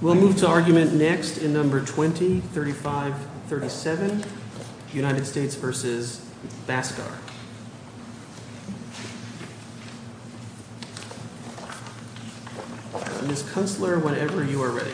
We'll move to argument next in number 20, 35, 37, United States v. Bhaskar Ms. Kunstler, whenever you are ready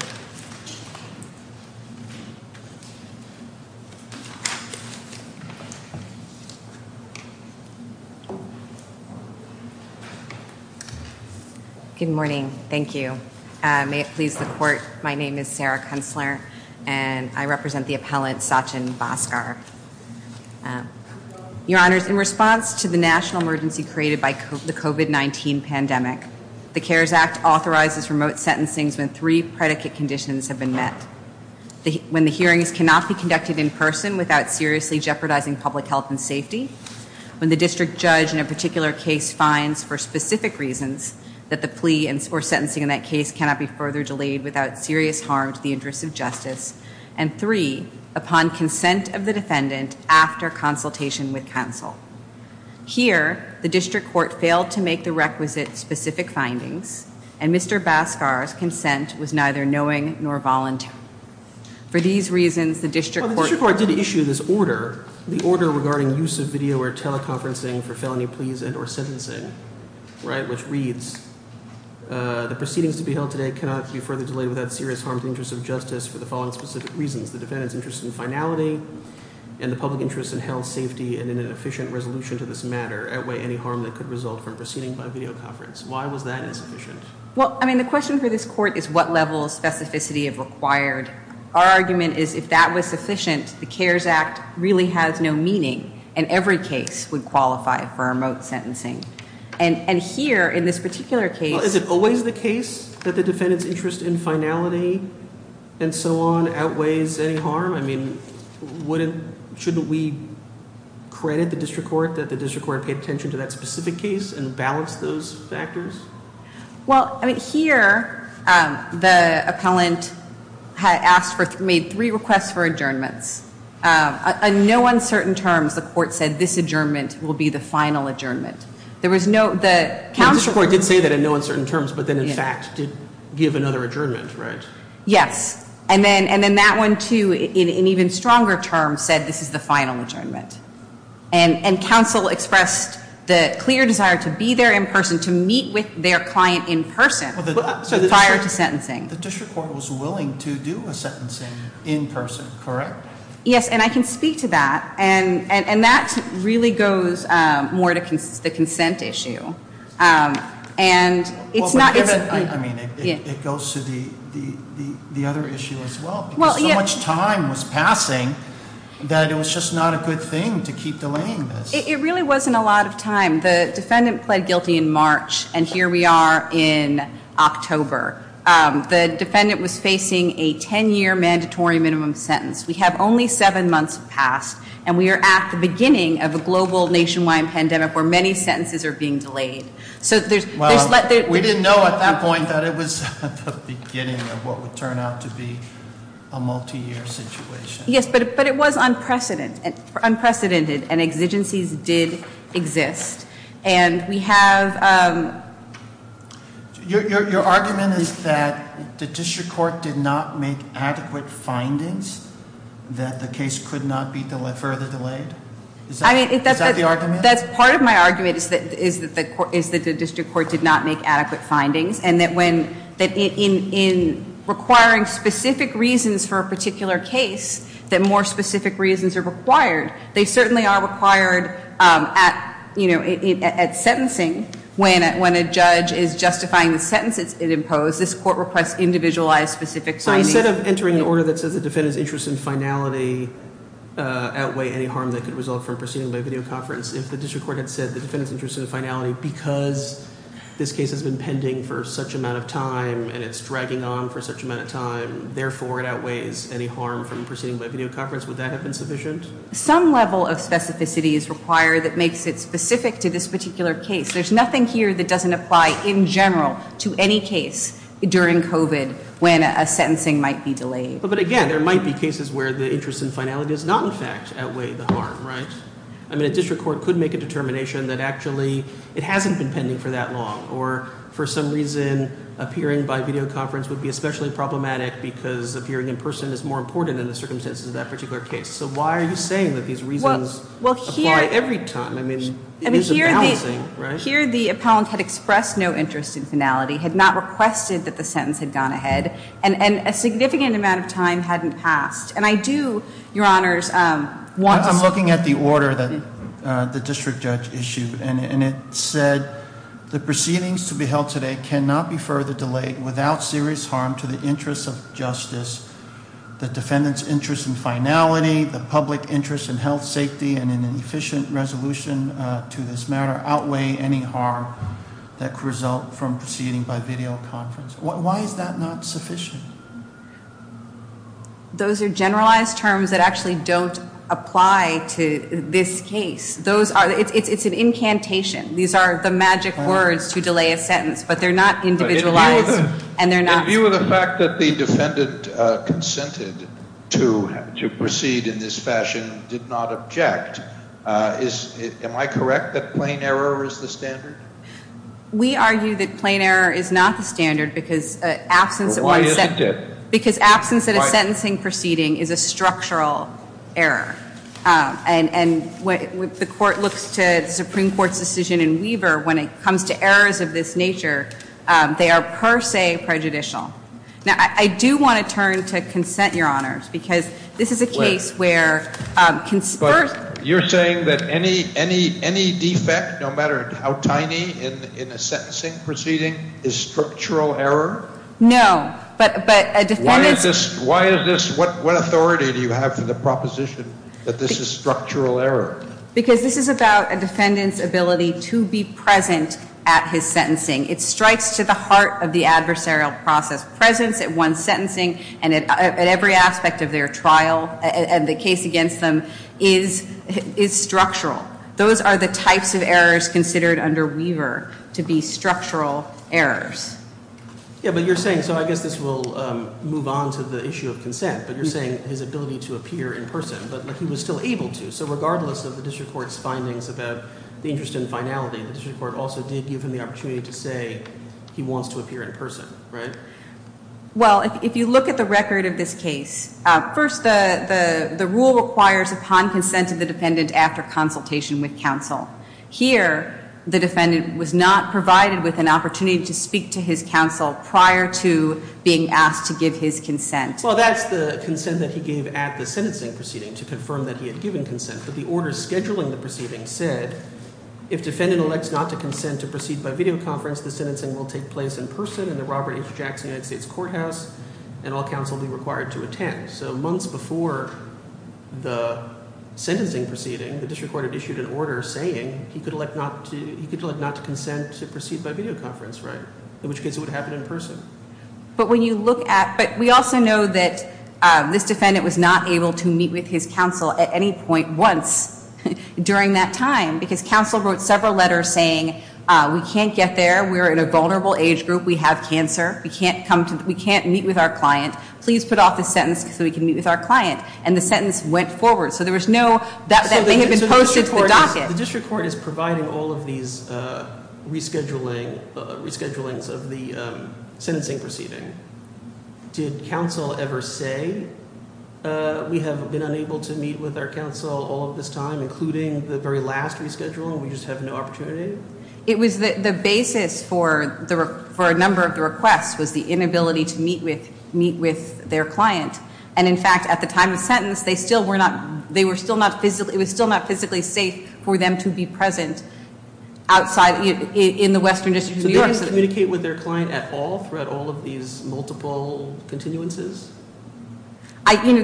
Good morning, thank you. May it please the court, my name is Sarah Kunstler and I represent the appellant Sachin Bhaskar. Your honors, in response to the national emergency created by the COVID-19 pandemic, the CARES Act authorizes remote sentencing when three predicate conditions have been met. When the hearings cannot be conducted in person without seriously jeopardizing public health and safety, when the district judge in a particular case finds, for specific reasons, that the plea or sentencing in that case cannot be further delayed without serious harm to the interests of justice, and three, upon consent of the defendant after consultation with counsel. Here, the district court failed to make the requisite specific findings, and Mr. Bhaskar's consent was neither knowing nor voluntary. For these reasons, the district court Well, the district court did issue this order, the order regarding use of video or teleconferencing for felony pleas and or sentencing, right, which reads, The proceedings to be held today cannot be further delayed without serious harm to the interests of justice for the following specific reasons. The defendant's interest in finality and the public interest in health, safety, and an efficient resolution to this matter outweigh any harm that could result from proceeding by videoconference. Why was that insufficient? Well, I mean, the question for this court is what level of specificity is required. Our argument is if that was sufficient, the CARES Act really has no meaning, and every case would qualify for remote sentencing. And here, in this particular case Well, is it always the case that the defendant's interest in finality and so on outweighs any harm? I mean, wouldn't, shouldn't we credit the district court that the district court paid attention to that specific case and balanced those factors? Well, I mean, here, the appellant had asked for, made three requests for adjournments. On no uncertain terms, the court said this adjournment will be the final adjournment. There was no, the council The district court did say that in no uncertain terms, but then, in fact, did give another adjournment, right? Yes, and then that one, too, in even stronger terms, said this is the final adjournment. And council expressed the clear desire to be there in person, to meet with their client in person prior to sentencing. The district court was willing to do a sentencing in person, correct? Yes, and I can speak to that. And that really goes more to the consent issue. And it's not I mean, it goes to the other issue as well. Because so much time was passing that it was just not a good thing to keep delaying this. It really wasn't a lot of time. The defendant pled guilty in March, and here we are in October. The defendant was facing a ten-year mandatory minimum sentence. We have only seven months past, and we are at the beginning of a global nationwide pandemic where many sentences are being delayed. So there's We didn't know at that point that it was the beginning of what would turn out to be a multi-year situation. Yes, but it was unprecedented, and exigencies did exist. And we have Your argument is that the district court did not make adequate findings that the case could not be further delayed? Is that the argument? Part of my argument is that the district court did not make adequate findings. And that in requiring specific reasons for a particular case, that more specific reasons are required. They certainly are required at sentencing when a judge is justifying the sentence it imposed. This court requests individualized specific findings. So instead of entering an order that says the defendant's interest in finality outweigh any harm that could result from proceeding by video conference, if the district court had said the defendant's interest in finality because this case has been pending for such amount of time and it's dragging on for such amount of time, therefore it outweighs any harm from proceeding by video conference, would that have been sufficient? Some level of specificity is required that makes it specific to this particular case. There's nothing here that doesn't apply in general to any case during COVID when a sentencing might be delayed. But again, there might be cases where the interest in finality does not, in fact, outweigh the harm, right? I mean, a district court could make a determination that actually it hasn't been pending for that long or for some reason appearing by video conference would be especially problematic because appearing in person is more important in the circumstances of that particular case. So why are you saying that these reasons apply every time? I mean, it isn't balancing, right? Here the appellant had expressed no interest in finality, had not requested that the sentence had gone ahead, and a significant amount of time hadn't passed. And I do, Your Honors, want to see- I'm looking at the order that the district judge issued. And it said the proceedings to be held today cannot be further delayed without serious harm to the interests of justice, the defendant's interest in finality, the public interest in health, safety, and an efficient resolution to this matter outweigh any harm that could result from proceeding by video conference. Why is that not sufficient? Those are generalized terms that actually don't apply to this case. It's an incantation. These are the magic words to delay a sentence, but they're not individualized, and they're not- In view of the fact that the defendant consented to proceed in this fashion, did not object, am I correct that plain error is the standard? We argue that plain error is not the standard because absence of- Why is it not? Because absence at a sentencing proceeding is a structural error. And when the court looks to the Supreme Court's decision in Weaver when it comes to errors of this nature, they are per se prejudicial. Now, I do want to turn to consent, Your Honors, because this is a case where- But you're saying that any defect, no matter how tiny, in a sentencing proceeding is structural error? No, but a defendant- Why is this- What authority do you have for the proposition that this is structural error? Because this is about a defendant's ability to be present at his sentencing. It strikes to the heart of the adversarial process. Presence at one's sentencing and at every aspect of their trial and the case against them is structural. Those are the types of errors considered under Weaver to be structural errors. Yeah, but you're saying- So I guess this will move on to the issue of consent. But you're saying his ability to appear in person, but he was still able to. So regardless of the district court's findings about the interest in finality, the district court also did give him the opportunity to say he wants to appear in person, right? Well, if you look at the record of this case, first the rule requires upon consent of the defendant after consultation with counsel. Here, the defendant was not provided with an opportunity to speak to his counsel prior to being asked to give his consent. Well, that's the consent that he gave at the sentencing proceeding to confirm that he had given consent. But the order scheduling the proceeding said if defendant elects not to consent to proceed by videoconference, the sentencing will take place in person in the Robert H. Jackson United States Courthouse, and all counsel will be required to attend. So months before the sentencing proceeding, the district court had issued an order saying he could elect not to consent to proceed by videoconference, right? In which case it would happen in person. But when you look at, but we also know that this defendant was not able to meet with his counsel at any point once during that time. Because counsel wrote several letters saying we can't get there, we're in a vulnerable age group, we have cancer, we can't meet with our client. Please put off this sentence so we can meet with our client. And the sentence went forward. So there was no, that may have been posted to the docket. The district court is providing all of these reschedulings of the sentencing proceeding. Did counsel ever say we have been unable to meet with our counsel all of this time, including the very last reschedule and we just have no opportunity? It was the basis for a number of the requests was the inability to meet with their client. And in fact, at the time of the sentence, it was still not physically safe for them to be present outside in the Western District of New York. So they didn't communicate with their client at all throughout all of these multiple continuances?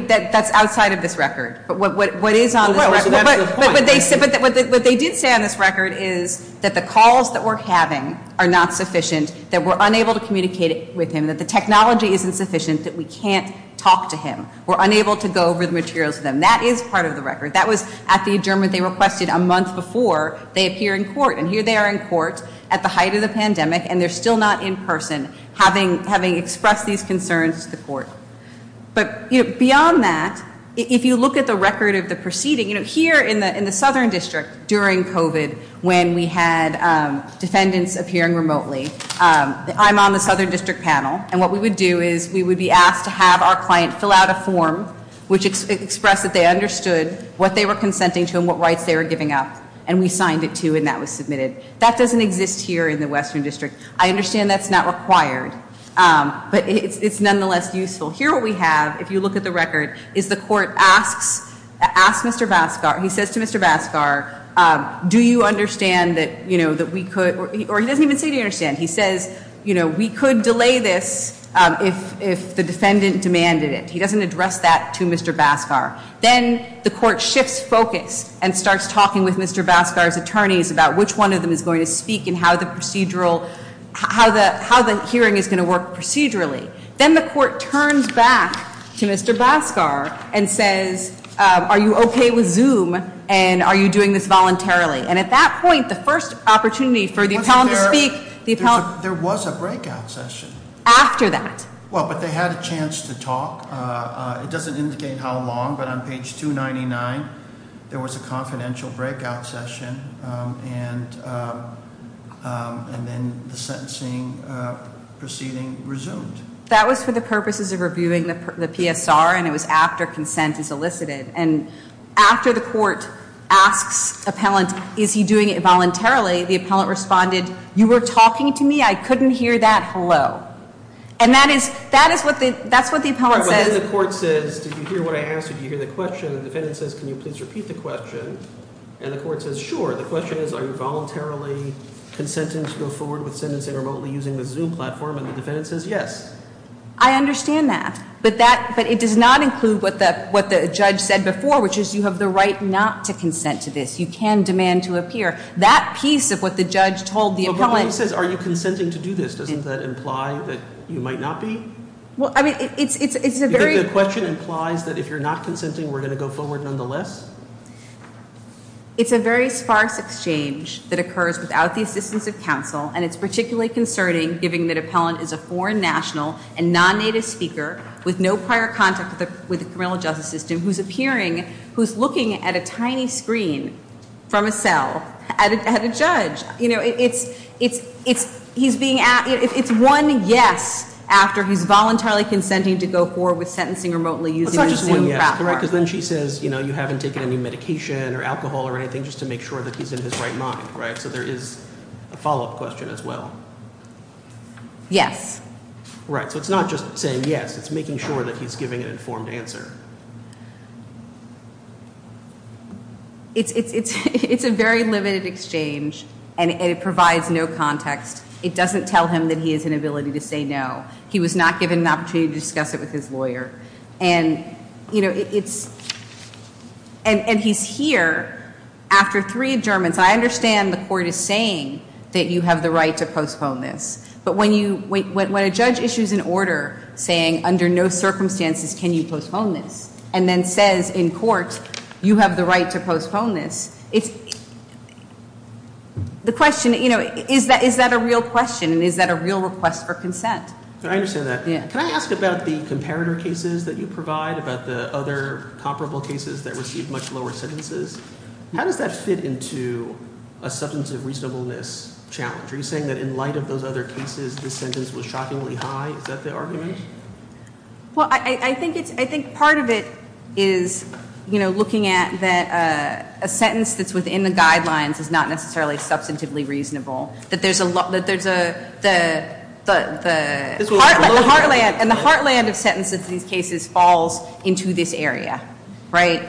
That's outside of this record. But what is on this record- So that's the point. But what they did say on this record is that the calls that we're having are not sufficient, that we're unable to communicate with him, that the technology isn't sufficient, that we can't talk to him. We're unable to go over the materials to them. That is part of the record. That was at the adjournment they requested a month before they appear in court. And here they are in court at the height of the pandemic. And they're still not in person, having expressed these concerns to the court. But beyond that, if you look at the record of the proceeding, here in the Southern District during COVID, when we had defendants appearing remotely, I'm on the Southern District panel. And what we would do is we would be asked to have our client fill out a form, which expressed that they understood what they were consenting to and what rights they were giving up. And we signed it, too, and that was submitted. That doesn't exist here in the Western District. I understand that's not required, but it's nonetheless useful. Here what we have, if you look at the record, is the court asks Mr. Baskar, he says to Mr. Baskar, do you understand that we could, or he doesn't even say do you understand. He says, you know, we could delay this if the defendant demanded it. He doesn't address that to Mr. Baskar. Then the court shifts focus and starts talking with Mr. Baskar's attorneys about which one of them is going to speak and how the hearing is going to work procedurally. Then the court turns back to Mr. Baskar and says, are you okay with Zoom? And are you doing this voluntarily? And at that point, the first opportunity for the appellant to speak- There was a breakout session. After that. Well, but they had a chance to talk. It doesn't indicate how long, but on page 299, there was a confidential breakout session. And then the sentencing proceeding resumed. That was for the purposes of reviewing the PSR, and it was after consent is elicited. And after the court asks appellant, is he doing it voluntarily? The appellant responded, you were talking to me? I couldn't hear that. Hello. And that is what the appellant says. Well, then the court says, did you hear what I asked? Did you hear the question? The defendant says, can you please repeat the question? And the court says, sure. The question is, are you voluntarily consenting to go forward with sentencing remotely using the Zoom platform? And the defendant says, yes. I understand that. But it does not include what the judge said before, which is you have the right not to consent to this. You can demand to appear. That piece of what the judge told the appellant- But the question says, are you consenting to do this? Doesn't that imply that you might not be? Well, I mean, it's a very- It's a very sparse exchange that occurs without the assistance of counsel, and it's particularly concerning, given that appellant is a foreign national and non-native speaker with no prior contact with the criminal justice system who's appearing, who's looking at a tiny screen from a cell at a judge. You know, it's one yes after he's voluntarily consenting to go forward with sentencing remotely using the Zoom platform. Correct, because then she says, you know, you haven't taken any medication or alcohol or anything just to make sure that he's in his right mind, right? So there is a follow-up question as well. Yes. Right, so it's not just saying yes. It's making sure that he's giving an informed answer. It's a very limited exchange, and it provides no context. It doesn't tell him that he has an ability to say no. He was not given an opportunity to discuss it with his lawyer. And, you know, it's ‑‑ and he's here after three adjournments. I understand the court is saying that you have the right to postpone this, but when a judge issues an order saying under no circumstances can you postpone this and then says in court you have the right to postpone this, it's ‑‑ the question, you know, is that a real question and is that a real request for consent? I understand that. Can I ask about the comparator cases that you provide, about the other comparable cases that receive much lower sentences? How does that fit into a substantive reasonableness challenge? Are you saying that in light of those other cases this sentence was shockingly high? Is that the argument? Well, I think part of it is, you know, looking at that a sentence that's within the guidelines is not necessarily substantively reasonable, that there's a ‑‑ and the heartland of sentences in these cases falls into this area, right?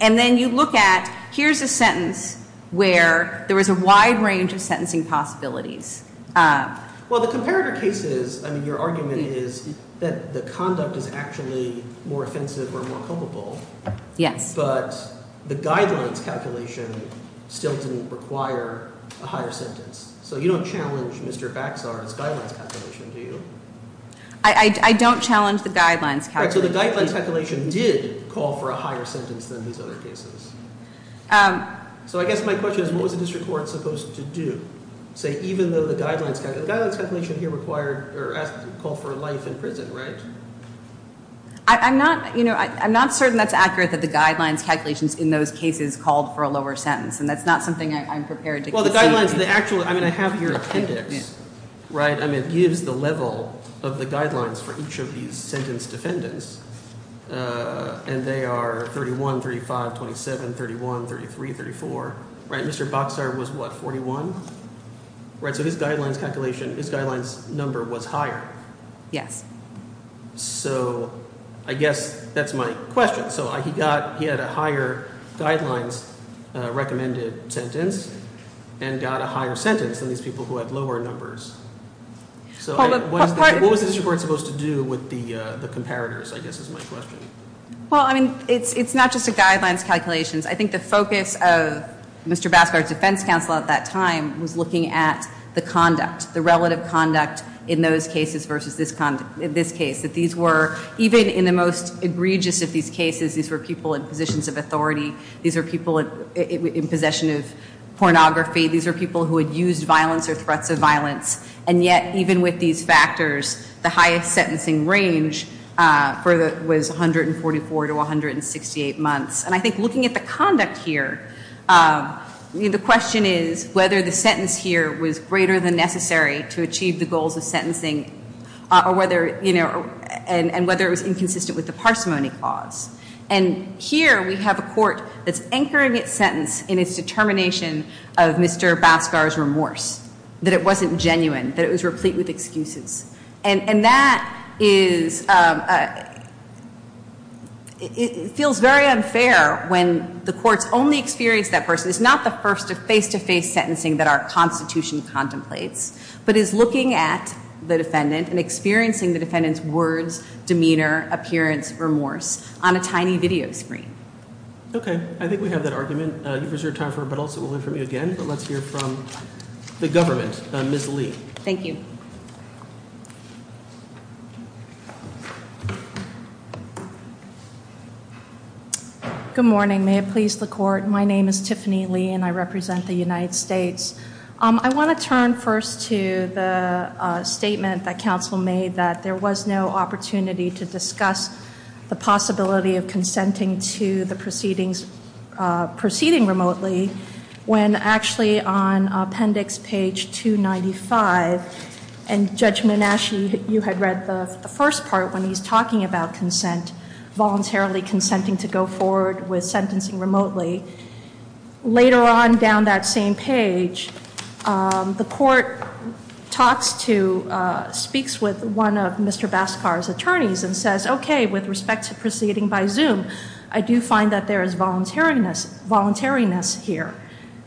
And then you look at here's a sentence where there was a wide range of sentencing possibilities. Well, the comparator cases, I mean, your argument is that the conduct is actually more offensive or more culpable. Yes. But the guidelines calculation still didn't require a higher sentence. So you don't challenge Mr. Baxar's guidelines calculation, do you? I don't challenge the guidelines calculation. Right, so the guidelines calculation did call for a higher sentence than these other cases. So I guess my question is what was the district court supposed to do? Say even though the guidelines calculation here required or called for life in prison, right? I'm not, you know, I'm not certain that's accurate that the guidelines calculations in those cases called for a lower sentence, and that's not something I'm prepared to concede. Well, the guidelines, the actual ‑‑ I mean, I have here an appendix, right? I mean, it gives the level of the guidelines for each of these sentence defendants, and they are 31, 35, 27, 31, 33, 34, right? Mr. Baxar was what, 41? Right, so his guidelines calculation, his guidelines number was higher. Yes. So I guess that's my question. So he got ‑‑ he had a higher guidelines recommended sentence and got a higher sentence than these people who had lower numbers. So what was the district court supposed to do with the comparators, I guess, is my question. Well, I mean, it's not just the guidelines calculations. I think the focus of Mr. Baxar's defense counsel at that time was looking at the conduct, the relative conduct in those cases versus this case, that these were, even in the most egregious of these cases, these were people in positions of authority. These were people in possession of pornography. These were people who had used violence or threats of violence. And yet, even with these factors, the highest sentencing range was 144 to 168 months. And I think looking at the conduct here, the question is whether the sentence here was greater than necessary to achieve the goals of sentencing or whether, you know, and whether it was inconsistent with the parsimony clause. And here we have a court that's anchoring its sentence in its determination of Mr. Baxar's remorse, that it wasn't genuine, that it was replete with excuses. And that is, it feels very unfair when the courts only experience that person. It's not the first face-to-face sentencing that our Constitution contemplates, but is looking at the defendant and experiencing the defendant's words, demeanor, appearance, remorse on a tiny video screen. Okay. I think we have that argument. You've reserved time for it, but also we'll hear from you again. But let's hear from the government, Ms. Lee. Thank you. Thank you. Good morning. May it please the court, my name is Tiffany Lee and I represent the United States. I want to turn first to the statement that counsel made that there was no opportunity to discuss the possibility of consenting to the proceedings, proceeding remotely, when actually on appendix page 295, and Judge Manasci, you had read the first part when he's talking about consent, voluntarily consenting to go forward with sentencing remotely. Later on, down that same page, the court talks to, speaks with one of Mr. Baxar's attorneys and says, okay, with respect to proceeding by Zoom, I do find that there is voluntariness here.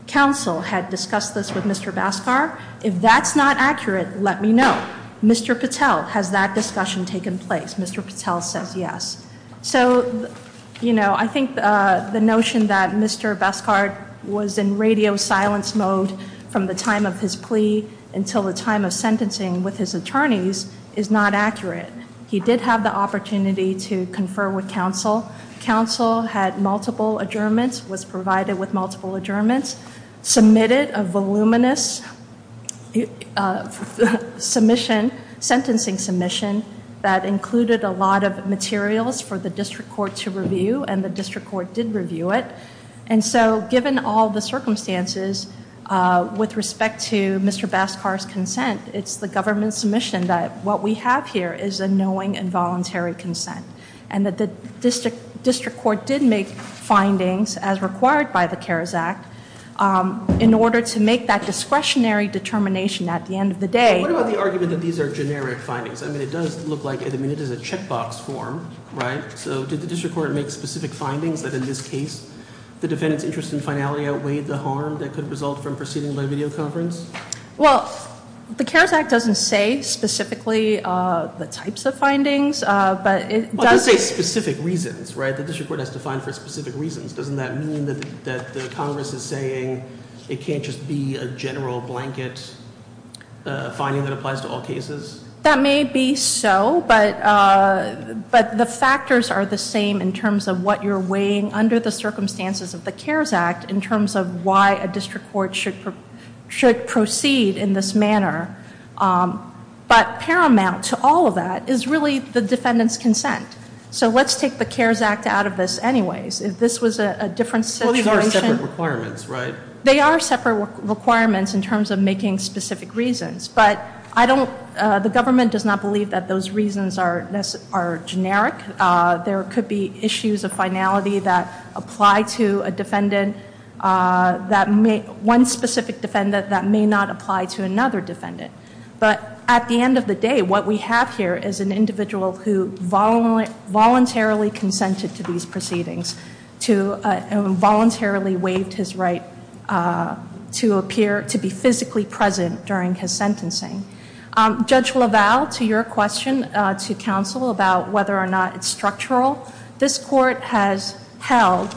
Counsel had discussed this with Mr. Baxar. If that's not accurate, let me know. Mr. Patel, has that discussion taken place? Mr. Patel says yes. So, you know, I think the notion that Mr. Baxar was in radio silence mode from the time of his plea until the time of sentencing with his attorneys is not accurate. He did have the opportunity to confer with counsel. Counsel had multiple adjournments, was provided with multiple adjournments, submitted a voluminous submission, sentencing submission, that included a lot of materials for the district court to review, and the district court did review it. And so, given all the circumstances, with respect to Mr. Baxar's consent, it's the government's submission that what we have here is a knowing and voluntary consent, and that the district court did make findings, as required by the CARES Act, in order to make that discretionary determination at the end of the day. What about the argument that these are generic findings? I mean, it does look like, I mean, it is a checkbox form, right? So, did the district court make specific findings that, in this case, the defendant's interest in finality outweighed the harm that could result from proceeding by video conference? Well, the CARES Act doesn't say specifically the types of findings, but it does- Well, it does say specific reasons, right? The district court has to find for specific reasons. Doesn't that mean that the Congress is saying it can't just be a general blanket finding that applies to all cases? That may be so, but the factors are the same in terms of what you're weighing under the circumstances of the CARES Act in terms of why a district court should proceed in this manner. But paramount to all of that is really the defendant's consent. So, let's take the CARES Act out of this anyways. If this was a different situation- Well, these are separate requirements, right? They are separate requirements in terms of making specific reasons, but I don't- the government does not believe that those reasons are generic. There could be issues of finality that apply to a defendant that may- one specific defendant that may not apply to another defendant. But at the end of the day, what we have here is an individual who voluntarily consented to these proceedings and voluntarily waived his right to appear- to be physically present during his sentencing. Judge LaValle, to your question to counsel about whether or not it's structural, this court has held-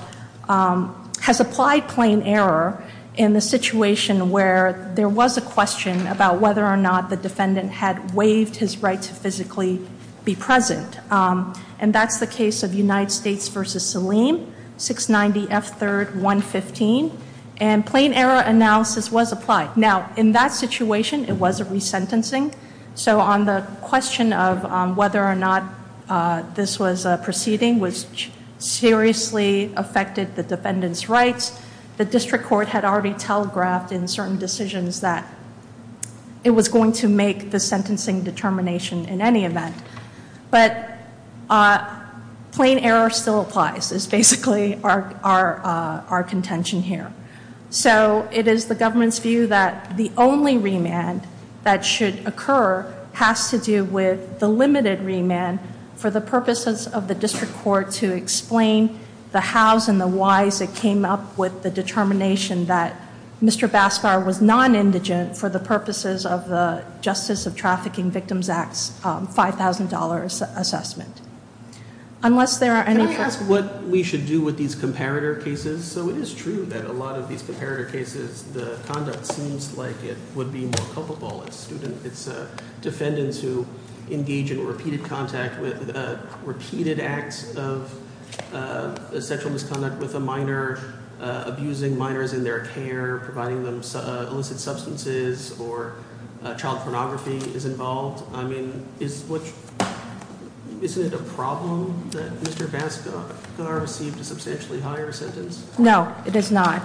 has applied plain error in the situation where there was a question about whether or not the defendant had waived his right to physically be present. And that's the case of United States v. Saleem, 690 F. 3rd, 115. And plain error analysis was applied. Now, in that situation, it was a resentencing. So on the question of whether or not this was a proceeding which seriously affected the defendant's rights, the district court had already telegraphed in certain decisions that it was going to make the sentencing determination in any event. But plain error still applies, is basically our contention here. So it is the government's view that the only remand that should occur has to do with the limited remand for the purposes of the district court to explain the hows and the whys that came up with the determination that Mr. Bascar was non-indigent for the purposes of the Justice of Trafficking Victims Act's $5,000 assessment. Unless there are any- Can I ask what we should do with these comparator cases? So it is true that a lot of these comparator cases, the conduct seems like it would be more culpable. It's defendants who engage in repeated contact with repeated acts of sexual misconduct with a minor, abusing minors in their care, providing them illicit substances, or child pornography is involved. I mean, isn't it a problem that Mr. Bascar received a substantially higher sentence? No, it is not.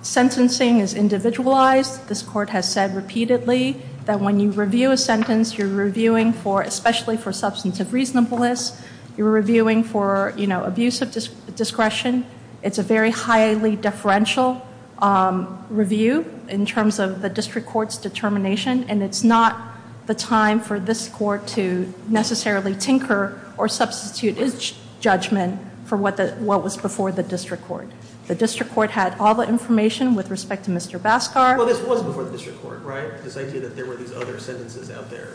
Sentencing is individualized. This court has said repeatedly that when you review a sentence, you're reviewing especially for substance of reasonableness. You're reviewing for abuse of discretion. It's a very highly deferential review in terms of the district court's determination, and it's not the time for this court to necessarily tinker or substitute its judgment for what was before the district court. The district court had all the information with respect to Mr. Bascar. Well, this was before the district court, right? This idea that there were these other sentences out there.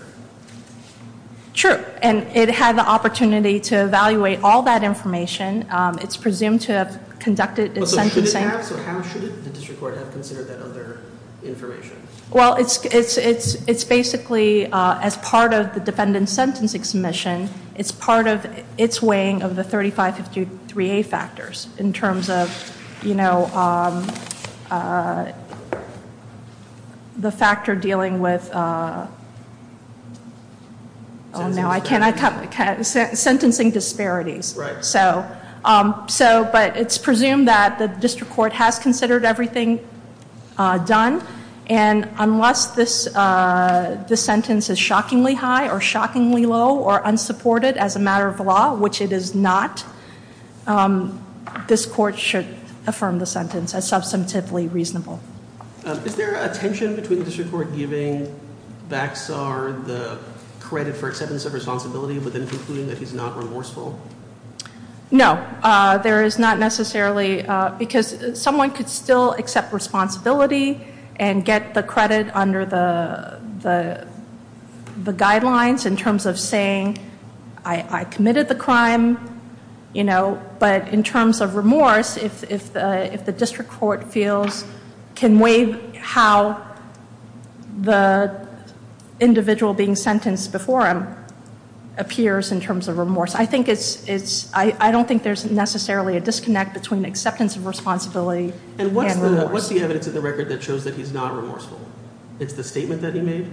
True, and it had the opportunity to evaluate all that information. It's presumed to have conducted its sentencing- So how should the district court have considered that other information? Well, it's basically, as part of the defendant's sentencing submission, it's part of its weighing of the 3553A factors in terms of, you know, the factor dealing with- Sentencing disparities. Sentencing disparities. Right. So, but it's presumed that the district court has considered everything done, and unless this sentence is shockingly high or shockingly low or unsupported as a matter of law, which it is not, this court should affirm the sentence as substantively reasonable. Is there a tension between the district court giving Baccar the credit for acceptance of responsibility but then concluding that he's not remorseful? No, there is not necessarily, because someone could still accept responsibility and get the credit under the guidelines in terms of saying, I committed the crime, you know, but in terms of remorse, if the district court feels- can weigh how the individual being sentenced before him appears in terms of remorse. I think it's- I don't think there's necessarily a disconnect between acceptance of responsibility and remorse. And what's the evidence in the record that shows that he's not remorseful? It's the statement that he made?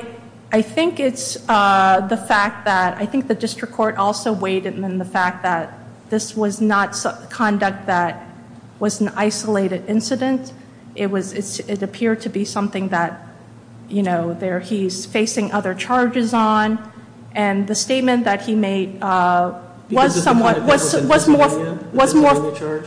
I think it's the fact that- I think the district court also weighed in on the fact that this was not conduct that was an isolated incident. It was- it appeared to be something that, you know, he's facing other charges on. And the statement that he made was somewhat- Because it's the kind of thing that was in Pennsylvania? Was more- The Pennsylvania charge?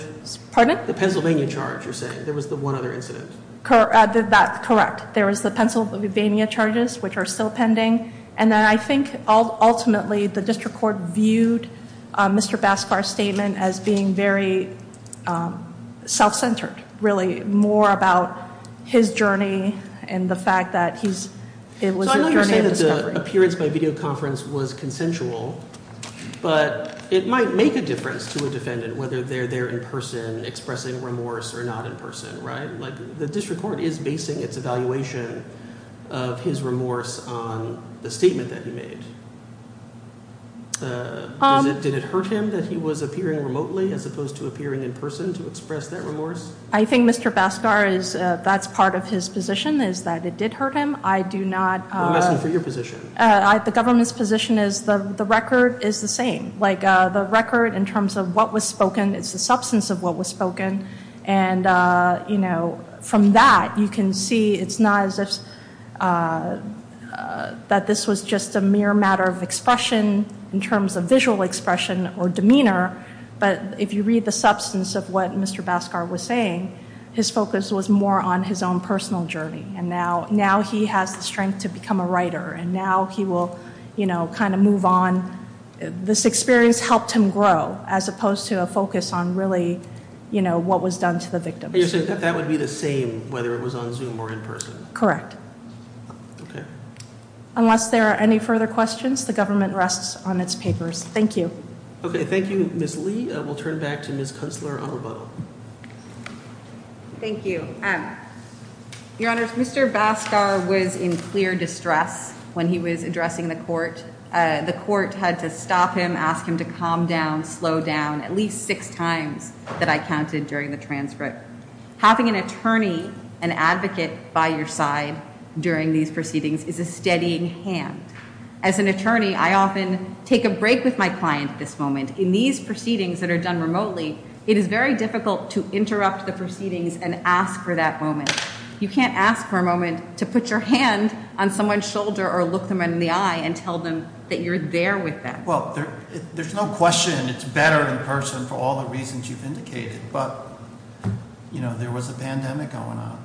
Pardon? The Pennsylvania charge, you're saying. There was the one other incident. That's correct. There was the Pennsylvania charges, which are still pending. And then I think ultimately the district court viewed Mr. Bascar's statement as being very self-centered, really more about his journey and the fact that he's- So I understand that the appearance by video conference was consensual, but it might make a difference to a defendant, whether they're there in person expressing remorse or not in person, right? Like, the district court is basing its evaluation of his remorse on the statement that he made. Did it hurt him that he was appearing remotely as opposed to appearing in person to express that remorse? I think Mr. Bascar is- that's part of his position is that it did hurt him. I do not- I'm asking for your position. The government's position is the record is the same. Like, the record in terms of what was spoken is the substance of what was spoken. And, you know, from that you can see it's not as if- that this was just a mere matter of expression in terms of visual expression or demeanor. But if you read the substance of what Mr. Bascar was saying, his focus was more on his own personal journey. And now he has the strength to become a writer. And now he will, you know, kind of move on. This experience helped him grow as opposed to a focus on really, you know, what was done to the victims. You're saying that that would be the same whether it was on Zoom or in person? Correct. Okay. Unless there are any further questions, the government rests on its papers. Thank you. Okay, thank you, Ms. Lee. We'll turn it back to Ms. Kunstler on rebuttal. Thank you. Your Honors, Mr. Bascar was in clear distress when he was addressing the court. The court had to stop him, ask him to calm down, slow down at least six times that I counted during the transcript. Having an attorney, an advocate by your side during these proceedings is a steadying hand. As an attorney, I often take a break with my client at this moment. In these proceedings that are done remotely, it is very difficult to interrupt the proceedings and ask for that moment. You can't ask for a moment to put your hand on someone's shoulder or look them in the eye and tell them that you're there with them. Well, there's no question it's better in person for all the reasons you've indicated. But, you know, there was a pandemic going on.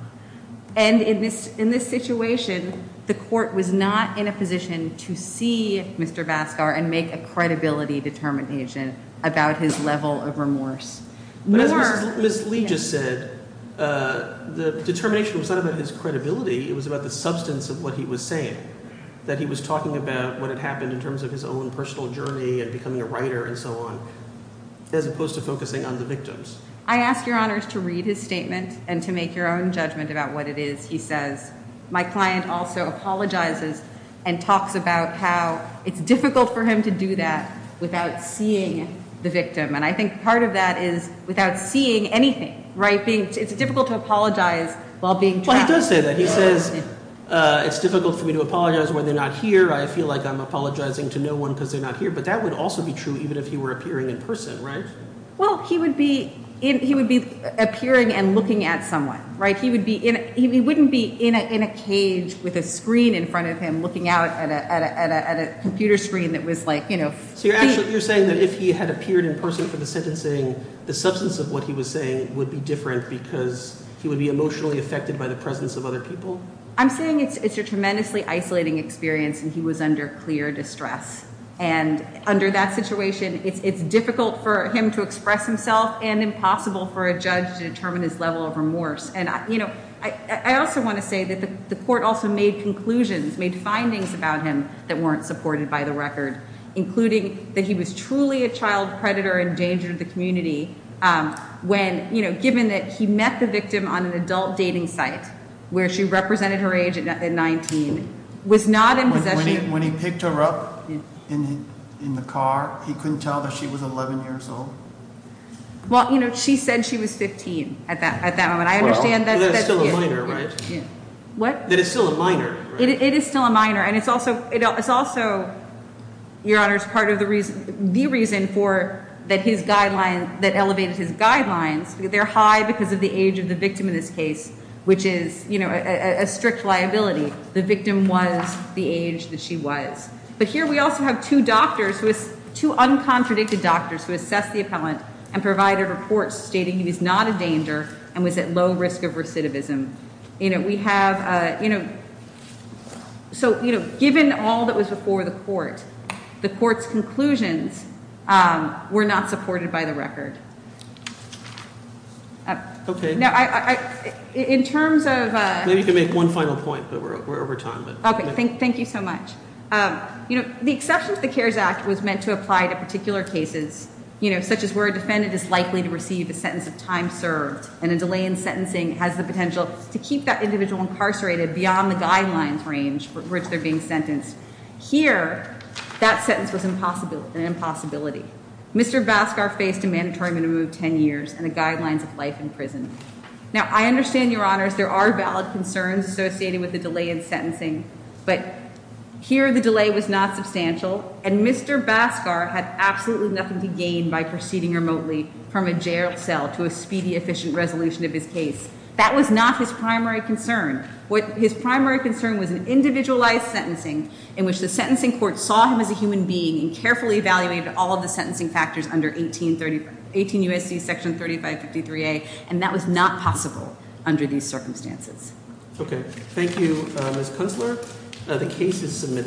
And in this situation, the court was not in a position to see Mr. Bascar and make a credibility determination about his level of remorse. Ms. Lee just said the determination was not about his credibility. It was about the substance of what he was saying, that he was talking about what had happened in terms of his own personal journey and becoming a writer and so on, as opposed to focusing on the victims. I ask your honors to read his statement and to make your own judgment about what it is he says. My client also apologizes and talks about how it's difficult for him to do that without seeing the victim. And I think part of that is without seeing anything. Right. It's difficult to apologize while being. He says it's difficult for me to apologize when they're not here. I feel like I'm apologizing to no one because they're not here. But that would also be true even if you were appearing in person. Right. Well, he would be he would be appearing and looking at someone. Right. He would be in he wouldn't be in a cage with a screen in front of him looking out at a computer screen that was like, you know. So you're actually you're saying that if he had appeared in person for the sentencing, the substance of what he was saying would be different because he would be emotionally affected by the presence of other people. I'm saying it's a tremendously isolating experience and he was under clear distress. And under that situation, it's difficult for him to express himself and impossible for a judge to determine his level of remorse. And, you know, I also want to say that the court also made conclusions, made findings about him that weren't supported by the record, including that he was truly a child predator, endangered the community. When, you know, given that he met the victim on an adult dating site where she represented her age at 19 was not in possession. When he picked her up in the car, he couldn't tell that she was 11 years old. Well, you know, she said she was 15 at that at that moment. I understand that. What? That is still a minor. It is still a minor. And it's also it's also your honor's part of the reason the reason for that his guideline that elevated his guidelines. They're high because of the age of the victim in this case, which is a strict liability. The victim was the age that she was. But here we also have two doctors with two uncontradicted doctors who assessed the appellant and provided reports stating he was not a danger and was at low risk of recidivism. You know, we have, you know. So, you know, given all that was before the court, the court's conclusions were not supported by the record. OK. Now, in terms of. You can make one final point, but we're over time. OK, thank thank you so much. You know, the exception to the Cares Act was meant to apply to particular cases, you know, such as where a defendant is likely to receive a sentence of time served and a delay in sentencing has the potential to keep that individual incarcerated beyond the guidelines range for which they're being sentenced here. That sentence was impossible. An impossibility. Mr. Baskar faced a mandatory minimum of 10 years and the guidelines of life in prison. Now, I understand your honors. There are valid concerns associated with the delay in sentencing, but here the delay was not substantial. And Mr. Baskar had absolutely nothing to gain by proceeding remotely from a jail cell to a speedy, efficient resolution of his case. That was not his primary concern. His primary concern was an individualized sentencing in which the sentencing court saw him as a human being and carefully evaluated all of the sentencing factors under 18 U.S.C. Section 3553A. And that was not possible under these circumstances. OK, thank you, Ms. Kunstler. The case is submitted.